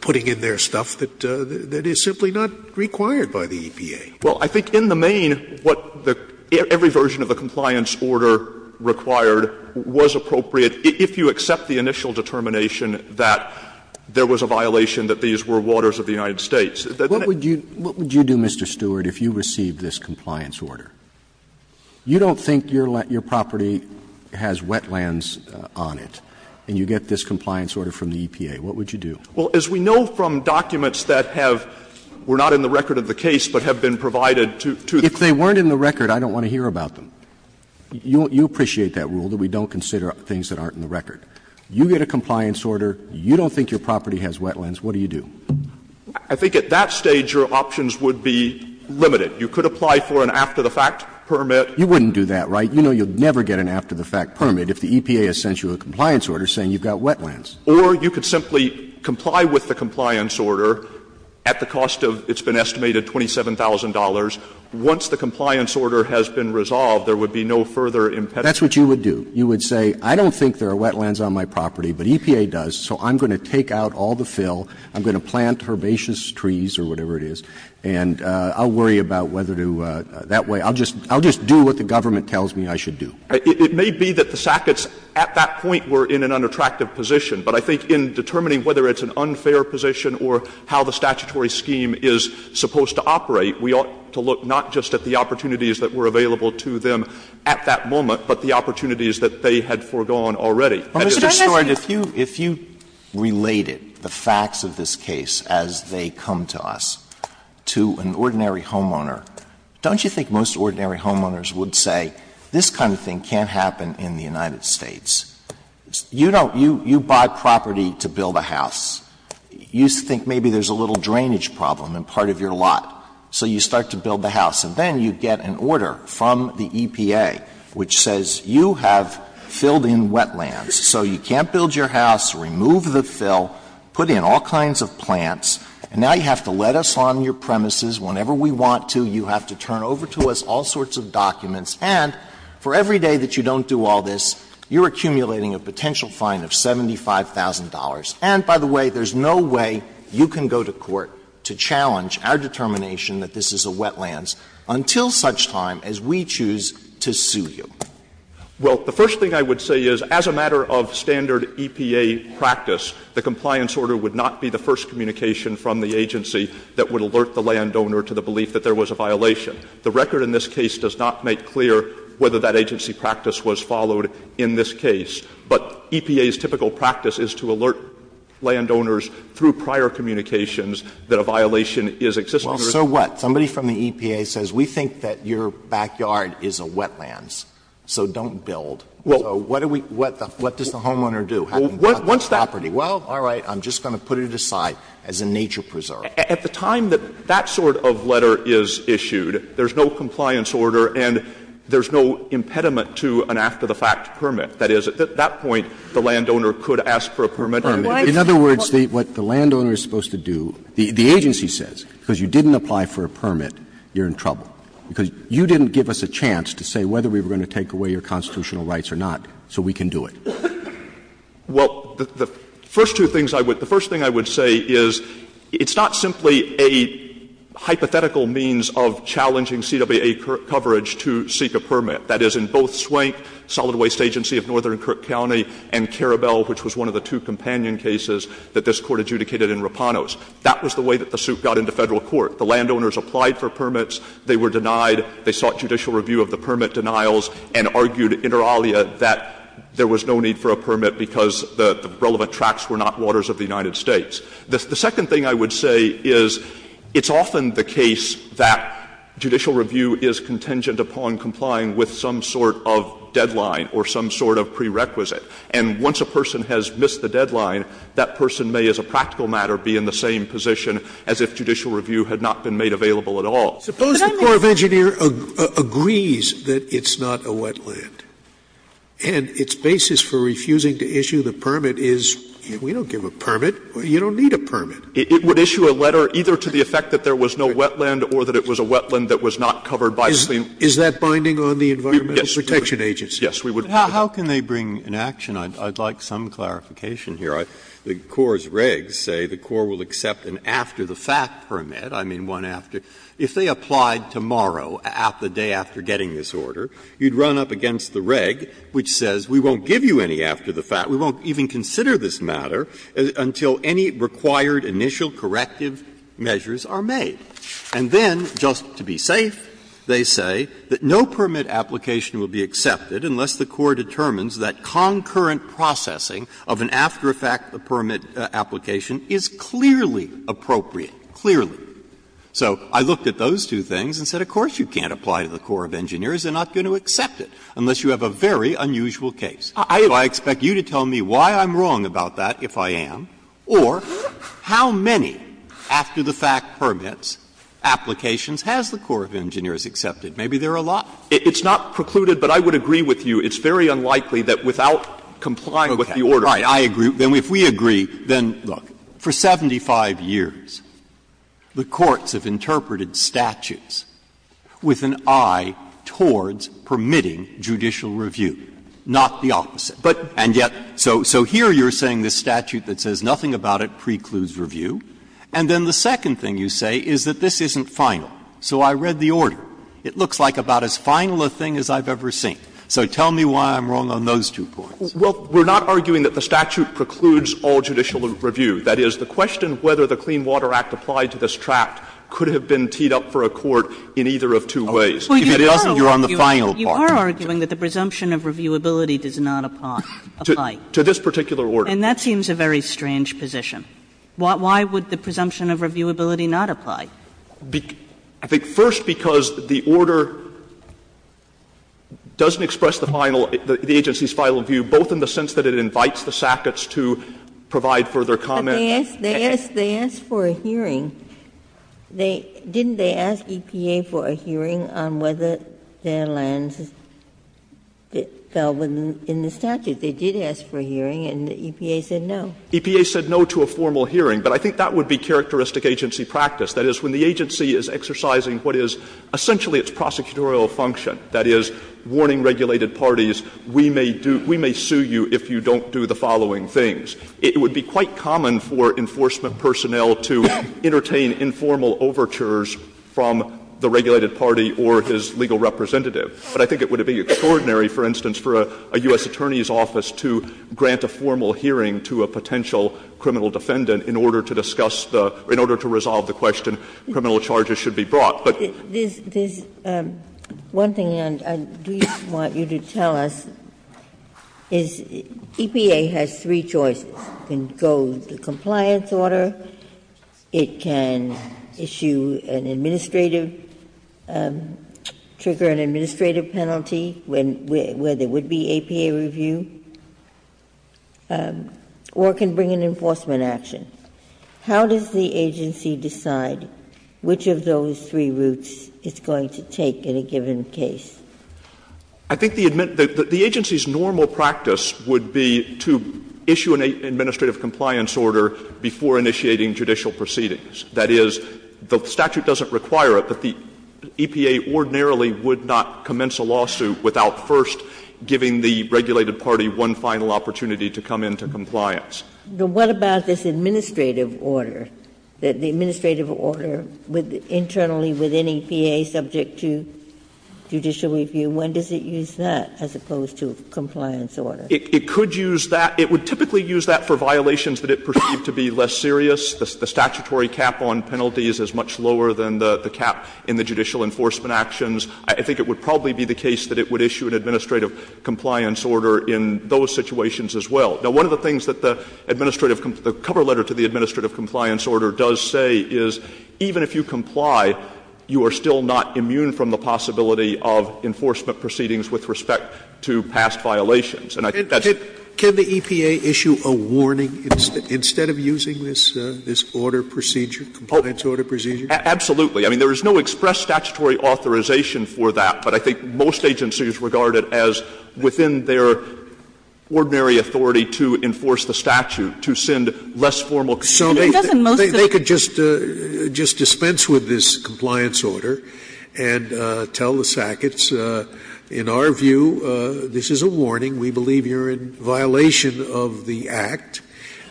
putting in their name stuff that is simply not required by the EPA. Well, I think in the main, what the every version of the compliance order required was appropriate, if you accept the initial determination that there was a violation that these were waters of the United States. What would you do, Mr. Stewart, if you received this compliance order? You don't think your property has wetlands on it, and you get this compliance order from the EPA. What would you do? Well, as we know from documents that have been provided to the EPA, they are not in the record of the case. If they weren't in the record, I don't want to hear about them. You appreciate that rule, that we don't consider things that aren't in the record. You get a compliance order. You don't think your property has wetlands. What do you do? I think at that stage your options would be limited. You could apply for an after-the-fact permit. You wouldn't do that, right? You know you would never get an after-the-fact permit if the EPA has sent you a compliance order saying you've got wetlands. Or you could simply comply with the compliance order at the cost of, it's been estimated, $27,000. Once the compliance order has been resolved, there would be no further impediment. That's what you would do. You would say, I don't think there are wetlands on my property, but EPA does, so I'm going to take out all the fill, I'm going to plant herbaceous trees or whatever it is, and I'll worry about whether to do that way. I'll just do what the government tells me I should do. It may be that the Sacketts at that point were in an unattractive position, but I think in determining whether it's an unfair position or how the statutory scheme is supposed to operate, we ought to look not just at the opportunities that were available to them at that moment, but the opportunities that they had foregone already. And it's a story that if you related the facts of this case as they come to us to an ordinary homeowner, don't you think most ordinary homeowners would say this kind of thing can't happen in the United States? You don't you buy property to build a house. You think maybe there's a little drainage problem in part of your lot, so you start to build the house. And then you get an order from the EPA which says you have filled in wetlands, so you can't build your house, remove the fill, put in all kinds of plants, and now you have to let us on your premises whenever we want to, you have to turn over to us all sorts of documents, and for every day that you don't do all this, you're accumulating a potential fine of $75,000. And, by the way, there's no way you can go to court to challenge our determination that this is a wetlands until such time as we choose to sue you. Stewarts. Well, the first thing I would say is, as a matter of standard EPA practice, the compliance order would not be the first communication from the agency that would alert the land owner to the belief that there was a violation. The record in this case does not make clear whether that agency practice was followed in this case, but EPA's typical practice is to alert landowners through prior communications that a violation is existent. Alito. Well, so what? Somebody from the EPA says we think that your backyard is a wetlands, so don't build. So what do we do? What does the homeowner do? Once that property, well, all right, I'm just going to put it aside as a nature preserve. At the time that that sort of letter is issued, there's no compliance order and there's no impediment to an after-the-fact permit. That is, at that point, the landowner could ask for a permit. Roberts. In other words, what the landowner is supposed to do, the agency says, because you didn't apply for a permit, you're in trouble, because you didn't give us a chance to say whether we were going to take away your constitutional rights or not, so we can do it. Well, the first two things I would say, the first thing I would say is it's not simply a hypothetical means of challenging CWA coverage to seek a permit. That is, in both Swank, Solid Waste Agency of Northern Kirk County, and Carabelle, which was one of the two companion cases that this Court adjudicated in Rapanos, that was the way that the suit got into Federal court. The landowners applied for permits, they were denied, they sought judicial review of the permit denials, and argued inter alia that there was no need for a permit because the relevant tracts were not waters of the United States. The second thing I would say is it's often the case that judicial review is contingent upon complying with some sort of deadline or some sort of prerequisite. And once a person has missed the deadline, that person may, as a practical matter, be in the same position as if judicial review had not been made available at all. Scalia, Suppose the Corps of Engineers agrees that it's not a wetland, and its basis for refusing to issue the permit is, we don't give a permit, you don't need a permit. It would issue a letter either to the effect that there was no wetland or that it was a wetland that was not covered by the Clean Water Act. Is that binding on the Environmental Protection Agency? Yes, we would. Breyer, how can they bring an action? I'd like some clarification here. The Corps' regs say the Corps will accept an after-the-fact permit, I mean one after. If they applied tomorrow, at the day after getting this order, you'd run up against the reg which says we won't give you any after the fact, we won't even consider this matter until any required initial corrective measures are made. And then, just to be safe, they say that no permit application will be accepted unless the Corps determines that concurrent processing of an after-the-fact permit application is clearly appropriate, clearly. So I looked at those two things and said, of course you can't apply to the Corps of Engineers, they're not going to accept it unless you have a very unusual case. I expect you to tell me why I'm wrong about that, if I am, or how many after-the-fact permits applications has the Corps of Engineers accepted? Maybe there are a lot. It's not precluded, but I would agree with you. It's very unlikely that without complying with the order. Okay. Right. I agree. Then if we agree, then, look, for 75 years, the courts have interpreted statutes with an eye towards permitting judicial review, not the opposite. But, and yet, so here you're saying this statute that says nothing about it precludes review, and then the second thing you say is that this isn't final. So I read the order. It looks like about as final a thing as I've ever seen. So tell me why I'm wrong on those two points. Well, we're not arguing that the statute precludes all judicial review. That is, the question whether the Clean Water Act applied to this tract could have been teed up for a court in either of two ways. If it doesn't, you're on the final part. You are arguing that the presumption of reviewability does not apply. To this particular order. And that seems a very strange position. Why would the presumption of reviewability not apply? I think first because the order doesn't express the final, the agency's final view, both in the sense that it invites the sackets to provide further comment. They asked for a hearing. Didn't they ask EPA for a hearing on whether their lands fell within the statute? They did ask for a hearing, and the EPA said no. EPA said no to a formal hearing, but I think that would be characteristic agency practice. That is, when the agency is exercising what is essentially its prosecutorial function, that is, warning regulated parties, we may do, we may sue you if you don't do the following things. It would be quite common for enforcement personnel to entertain informal overtures from the regulated party or his legal representative. But I think it would be extraordinary, for instance, for a U.S. Attorney's office to grant a formal hearing to a potential criminal defendant in order to discuss the, in order to resolve the question, criminal charges should be brought. Ginsburg. There's one thing I do want you to tell us, is EPA has three choices. It can go with the compliance order, it can issue an administrative, trigger an administrative penalty where there would be APA review, or it can bring an enforcement action. How does the agency decide which of those three routes it's going to take in a given case? I think the admin, the agency's normal practice would be to issue an administrative compliance order before initiating judicial proceedings. That is, the statute doesn't require it, but the EPA ordinarily would not commence a lawsuit without first giving the regulated party one final opportunity to come into compliance. Now, what about this administrative order, that the administrative order with, internally with any EPA subject to judicial review, when does it use that as opposed to a compliance order? It could use that. It would typically use that for violations that it perceived to be less serious. The statutory cap on penalties is much lower than the cap in the judicial enforcement actions. I think it would probably be the case that it would issue an administrative compliance order in those situations as well. Now, one of the things that the administrative, the cover letter to the administrative compliance order does say is even if you comply, you are still not immune from the possibility of enforcement proceedings with respect to past violations. And I think that's the case. Scalia, can the EPA issue a warning instead of using this order procedure, compliance order procedure? Absolutely. I mean, there is no express statutory authorization for that, but I think most agencies regard it as within their ordinary authority to enforce the statute, to send less formal complaints. So they could just dispense with this compliance order and tell the Sacketts, in our view, this is a warning, we believe you are in violation of the Act,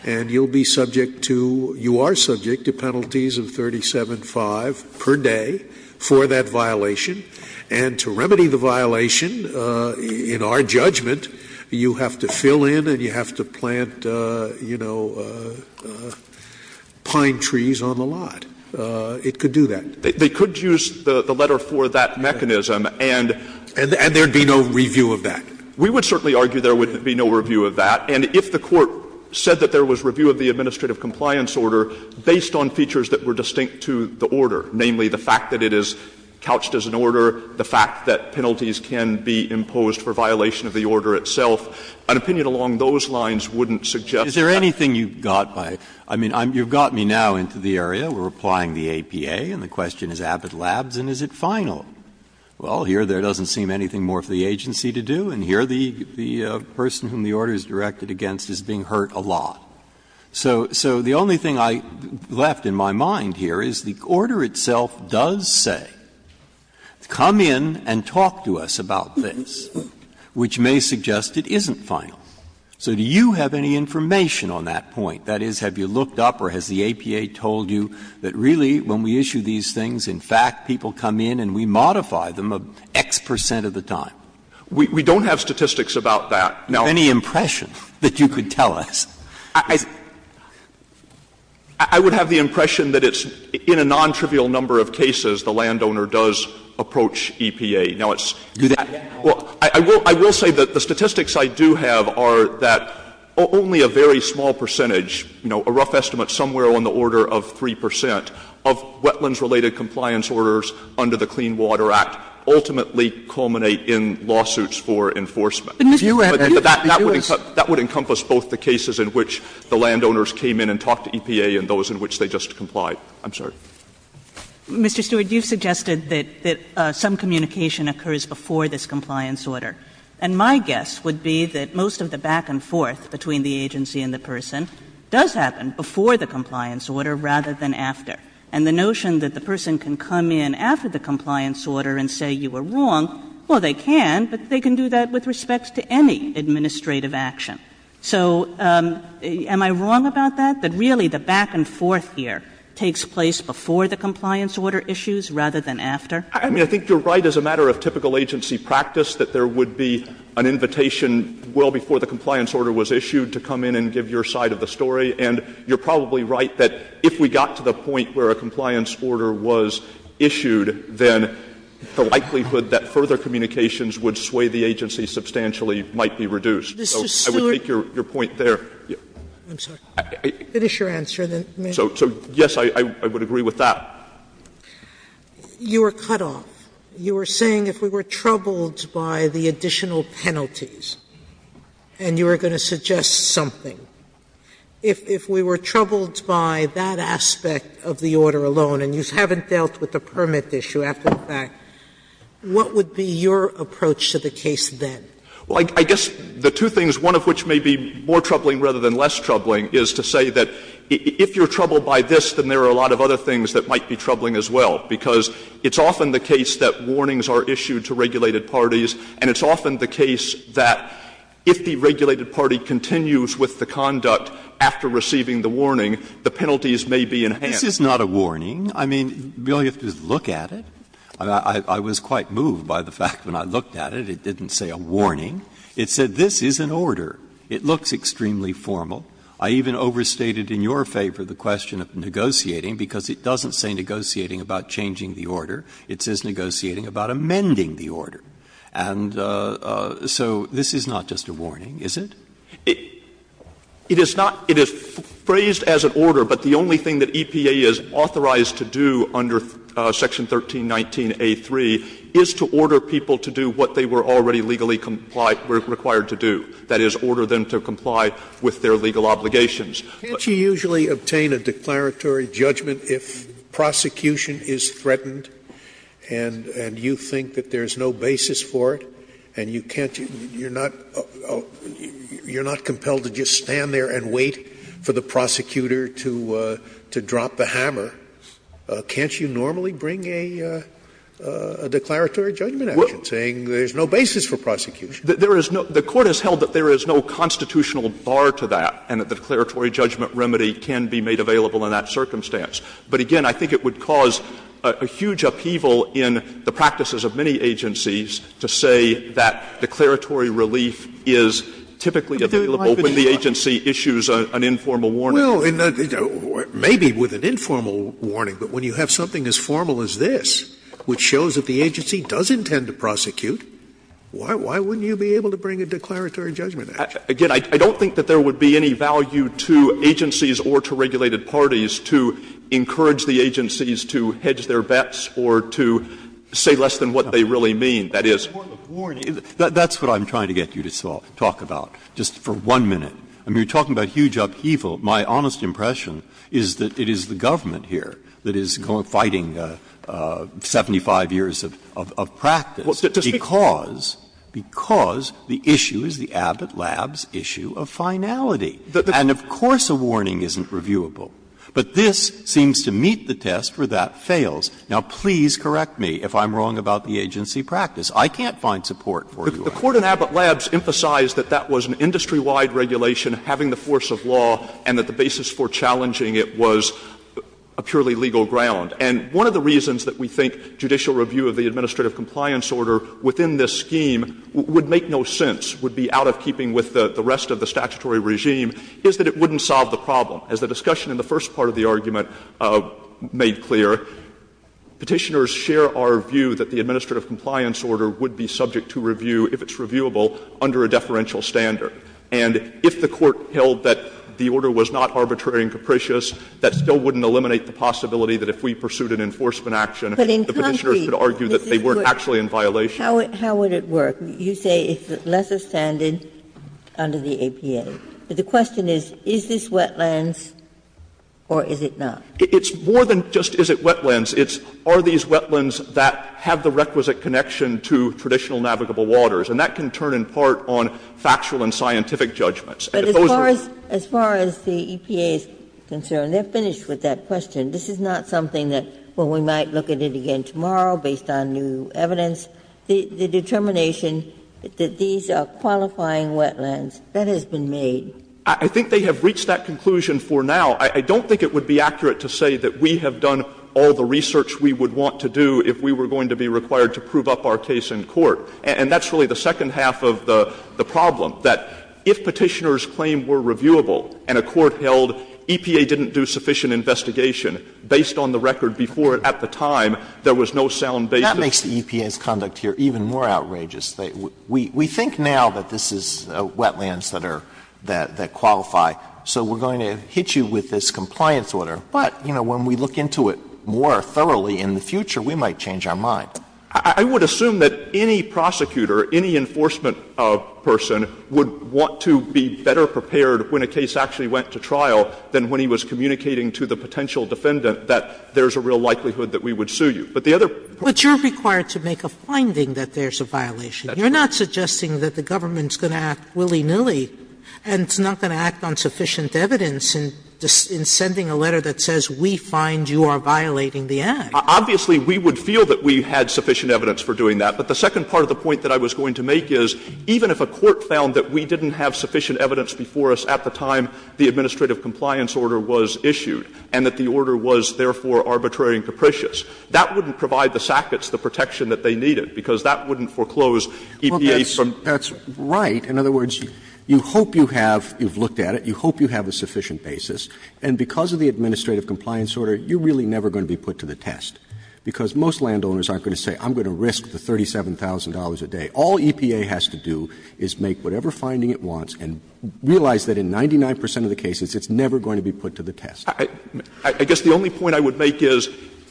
and you will be subject to, you are subject to penalties of 37-5 per day for that violation. And to remedy the violation, in our judgment, you have to fill in and you have to plant, you know, pine trees on the lot. It could do that. They could use the letter for that mechanism, and there would be no review of that. We would certainly argue there would be no review of that. And if the Court said that there was review of the administrative compliance order based on features that were distinct to the order, namely the fact that it is an order, the fact that penalties can be imposed for violation of the order itself, an opinion along those lines wouldn't suggest that. Breyer. Is there anything you got by it? I mean, you have got me now into the area. We are applying the APA, and the question is Abbott Labs, and is it final? Well, here there doesn't seem anything more for the agency to do, and here the person whom the order is directed against is being hurt a lot. So the only thing I left in my mind here is the order itself does say that the order is final. Come in and talk to us about this, which may suggest it isn't final. So do you have any information on that point? That is, have you looked up or has the APA told you that really when we issue these things, in fact, people come in and we modify them X percent of the time? We don't have statistics about that. Now, any impression that you could tell us? I would have the impression that it's in a nontrivial number of cases the landowner does approach EPA. Now, it's do that. I will say that the statistics I do have are that only a very small percentage, you know, a rough estimate somewhere on the order of 3 percent, of wetlands-related compliance orders under the Clean Water Act ultimately culminate in lawsuits for enforcement. But that would encompass both the cases in which the landowners came in and talked to EPA and those in which they just complied. I'm sorry. Mr. Stewart, you suggested that some communication occurs before this compliance order. And my guess would be that most of the back and forth between the agency and the person does happen before the compliance order rather than after. And the notion that the person can come in after the compliance order and say you were wrong, well, they can, but they can do that with respect to any administrative action. So am I wrong about that, that really the back and forth here takes place before the compliance order issues rather than after? I mean, I think you're right as a matter of typical agency practice that there would be an invitation well before the compliance order was issued to come in and give your side of the story. And you're probably right that if we got to the point where a compliance order was issued, then the likelihood that further communications would sway the agency substantially might be reduced. So I would take your point there. I'm sorry. Finish your answer, then. So, yes, I would agree with that. Sotomayor, you were cut off. You were saying if we were troubled by the additional penalties, and you were going to suggest something, if we were troubled by that aspect of the order alone and you haven't dealt with the permit issue after the fact, what would be your approach to the case then? Well, I guess the two things, one of which may be more troubling rather than less troubling, is to say that if you're troubled by this, then there are a lot of other things that might be troubling as well, because it's often the case that warnings are issued to regulated parties, and it's often the case that if the regulated party continues with the conduct after receiving the warning, the penalties may be enhanced. This is not a warning. I mean, you only have to look at it. I was quite moved by the fact when I looked at it, it didn't say a warning. It said this is an order. It looks extremely formal. I even overstated in your favor the question of negotiating, because it doesn't say negotiating about changing the order. It says negotiating about amending the order. And so this is not just a warning, is it? It is not. It is phrased as an order, but the only thing that EPA is authorized to do under Section 1319a3 is to order people to do what they were already legally required to do. That is, order them to comply with their legal obligations. Scalia. Can't you usually obtain a declaratory judgment if prosecution is threatened and you think that there is no basis for it, and you can't you're not compelled to just stand there and wait for the prosecutor to drop the hammer? Can't you normally bring a declaratory judgment action saying there is no basis for prosecution? There is no – the Court has held that there is no constitutional bar to that and that the declaratory judgment remedy can be made available in that circumstance. But again, I think it would cause a huge upheaval in the practices of many agencies to say that declaratory relief is typically available when the agency issues an informal warning. Scalia. Well, maybe with an informal warning, but when you have something as formal as this which shows that the agency does intend to prosecute, why wouldn't you be able to bring a declaratory judgment action? Again, I don't think that there would be any value to agencies or to regulated parties to encourage the agencies to hedge their bets or to say less than what they really mean. That is – That's what I'm trying to get you to talk about, just for one minute. I mean, you're talking about huge upheaval. My honest impression is that it is the government here that is fighting 75 years of practice because the issue is the Abbott Labs issue of finality. And of course a warning isn't reviewable. But this seems to meet the test where that fails. Now, please correct me if I'm wrong about the agency practice. I can't find support for your argument. The Court in Abbott Labs emphasized that that was an industry-wide regulation, having the force of law, and that the basis for challenging it was a purely legal ground. And one of the reasons that we think judicial review of the administrative compliance order within this scheme would make no sense, would be out of keeping with the rest of the statutory regime, is that it wouldn't solve the problem. As the discussion in the first part of the argument made clear, Petitioners share our view that the administrative compliance order would be subject to review if it's reviewable under a deferential standard. And if the Court held that the order was not arbitrary and capricious, that still wouldn't eliminate the possibility that if we pursued an enforcement action, the Petitioners could argue that they weren't actually in violation. Ginsburg. How would it work? You say it's less astounded under the APA. But the question is, is this wetlands or is it not? It's more than just is it wetlands. It's are these wetlands that have the requisite connection to traditional navigable waters. And that can turn in part on factual and scientific judgments. And if those are the ones that have the requisite connection to natural navigable waters. Ginsburg. But as far as the EPA is concerned, they're finished with that question. This is not something that when we might look at it again tomorrow based on new evidence, the determination that these are qualifying wetlands, that has been made. I think they have reached that conclusion for now. I don't think it would be accurate to say that we have done all the research And that's really the second half of the problem, that if Petitioners' claim were reviewable and a court held EPA didn't do sufficient investigation based on the record before at the time, there was no sound basis. That makes the EPA's conduct here even more outrageous. We think now that this is wetlands that are, that qualify. So we're going to hit you with this compliance order. But, you know, when we look into it more thoroughly in the future, we might change our mind. I would assume that any prosecutor, any enforcement person, would want to be better prepared when a case actually went to trial than when he was communicating to the potential defendant that there's a real likelihood that we would sue you. But the other part of the problem is that we're not going to do that. Sotomayor But you're required to make a finding that there's a violation. You're not suggesting that the government's going to act willy-nilly and it's not going to act on sufficient evidence in sending a letter that says, we find you are violating the act. Obviously, we would feel that we had sufficient evidence for doing that. But the second part of the point that I was going to make is, even if a court found that we didn't have sufficient evidence before us at the time the administrative compliance order was issued and that the order was, therefore, arbitrary and capricious, that wouldn't provide the SACCOTS the protection that they needed, because that wouldn't foreclose EPA from. Robertson That's right. In other words, you hope you have, you've looked at it, you hope you have a sufficient basis, and because of the administrative compliance order, you're really never going to be put to the test, because most landowners aren't going to say, I'm going to risk the $37,000 a day. All EPA has to do is make whatever finding it wants and realize that in 99 percent of the cases, it's never going to be put to the test. Stewart I guess the only point I would make is,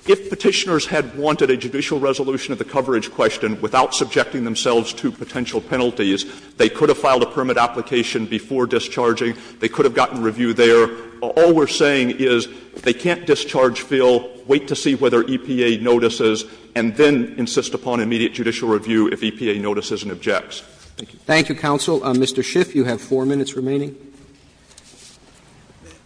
if Petitioners had wanted a judicial resolution of the coverage question without subjecting themselves to potential penalties, they could have filed a permit application before discharging, they could have gotten review there. All we're saying is they can't discharge, fill, wait to see whether EPA notices, and then insist upon immediate judicial review if EPA notices and objects. Roberts Thank you, counsel. Mr. Schiff, you have 4 minutes remaining. Schiff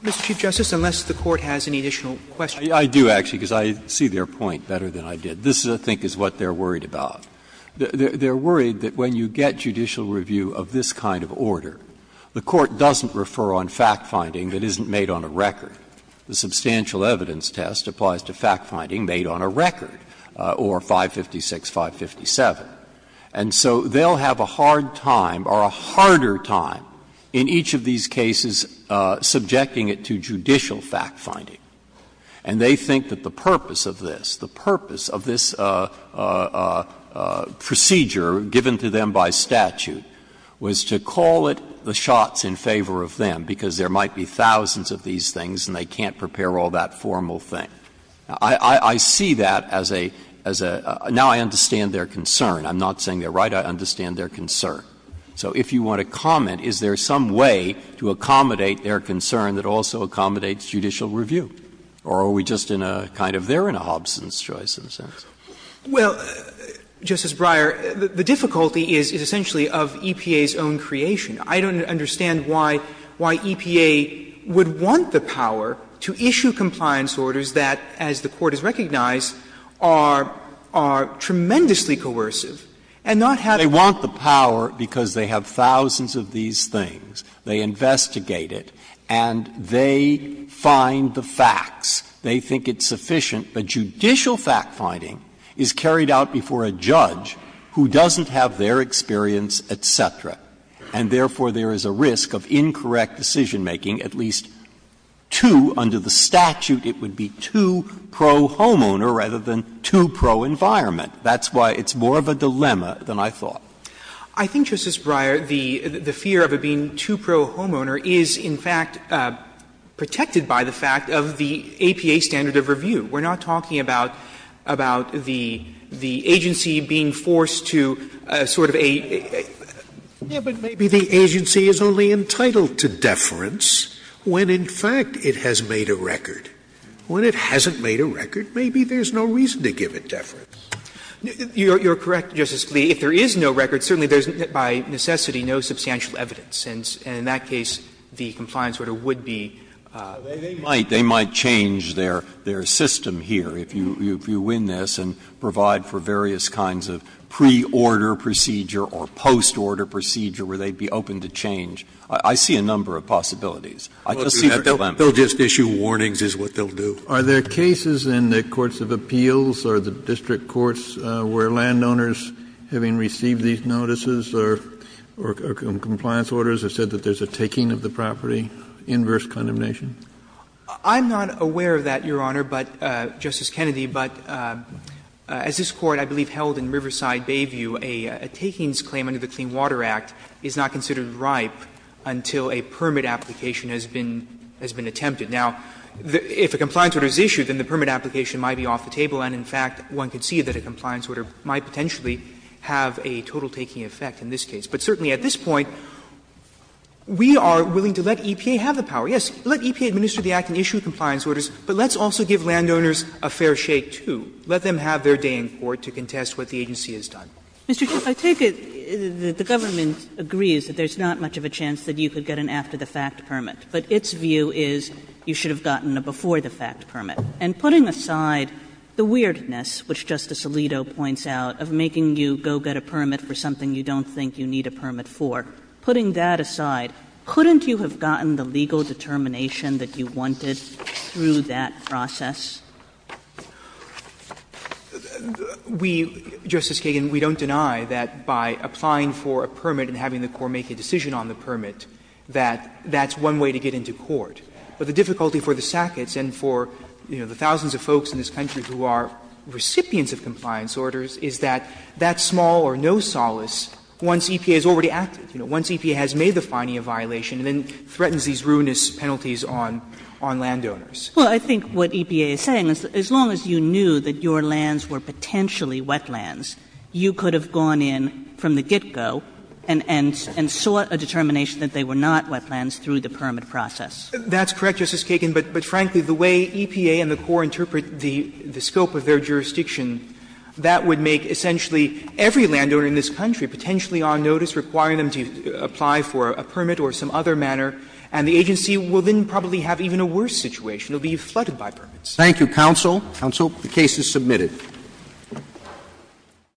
Mr. Chief Justice, unless the Court has any additional questions. Breyer I do, actually, because I see their point better than I did. This, I think, is what they're worried about. They're worried that when you get judicial review of this kind of order, the Court doesn't refer on fact-finding that isn't made on a record. The substantial evidence test applies to fact-finding made on a record, or 556, 557. And so they'll have a hard time, or a harder time, in each of these cases, subjecting it to judicial fact-finding. And they think that the purpose of this, the purpose of this procedure given to them by statute, was to call it the shots in favor of them, because there might be thousands of these things and they can't prepare all that formal thing. I see that as a, as a, now I understand their concern. I'm not saying they're right, I understand their concern. So if you want to comment, is there some way to accommodate their concern that also accommodates judicial review? Or are we just in a kind of they're in a Hobson's choice, in a sense? Well, Justice Breyer, the difficulty is, is essentially of EPA's own creation. I don't understand why, why EPA would want the power to issue compliance orders that, as the Court has recognized, are, are tremendously coercive and not have a. They want the power because they have thousands of these things. They investigate it and they find the facts. They think it's sufficient. But judicial fact-finding is carried out before a judge who doesn't have their experience, et cetera. And therefore, there is a risk of incorrect decision-making, at least to, under the statute, it would be to pro-homeowner rather than to pro-environment. That's why it's more of a dilemma than I thought. I think, Justice Breyer, the, the fear of it being to pro-homeowner is, in fact, protected by the fact of the APA standard of review. We're not talking about, about the, the agency being forced to sort of a, a, a. Scalia Yeah, but maybe the agency is only entitled to deference when, in fact, it has made a record. When it hasn't made a record, maybe there's no reason to give it deference. You're, you're correct, Justice Scalia. If there is no record, certainly there's by necessity no substantial evidence. And, and in that case, the compliance order would be. Breyer They, they might, they might change their, their system here if you, if you win this and provide for various kinds of pre-order procedure or post-order procedure where they'd be open to change. I, I see a number of possibilities. I just see the dilemma. Scalia They'll just issue warnings is what they'll do. Kennedy Are there cases in the courts of appeals or the district courts where landowners having received these notices or, or compliance orders have said that there's a taking of the property, inverse condemnation? I'm not aware of that, Your Honor, but, Justice Kennedy, but as this Court, I believe, held in Riverside Bayview, a, a takings claim under the Clean Water Act is not considered ripe until a permit application has been, has been attempted. Now, if a compliance order is issued, then the permit application might be off the table. And, in fact, one could see that a compliance order might potentially have a total taking effect in this case. But certainly at this point, we are willing to let EPA have the power. Yes, let EPA administer the act and issue compliance orders, but let's also give landowners a fair shake, too. Let them have their day in court to contest what the agency has done. Kagan Mr. Chief, I take it that the government agrees that there's not much of a chance that you could get an after-the-fact permit, but its view is you should have gotten a before-the-fact permit. And putting aside the weirdness, which Justice Alito points out, of making you go get a permit for something you don't think you need a permit for, putting that aside, couldn't you have gotten the legal determination that you wanted through that process? Verrilli, We, Justice Kagan, we don't deny that by applying for a permit and having the Court make a decision on the permit, that that's one way to get into court. But the difficulty for the Sacketts and for, you know, the thousands of folks in this country who are recipients of compliance orders is that that small or no solace once EPA has already acted, you know, once EPA has made the fining a violation and then threatens these ruinous penalties on landowners. Kagan Well, I think what EPA is saying is that as long as you knew that your lands were potentially wetlands, you could have gone in from the get-go and sought a determination that they were not wetlands through the permit process. Verrilli, That's correct, Justice Kagan. But frankly, the way EPA and the Court interpret the scope of their jurisdiction, that would make essentially every landowner in this country potentially on notice, requiring them to apply for a permit or some other manner, and the agency will then probably have even a worse situation. It will be flooded by permits. Roberts. Thank you, counsel. Counsel, the case is submitted.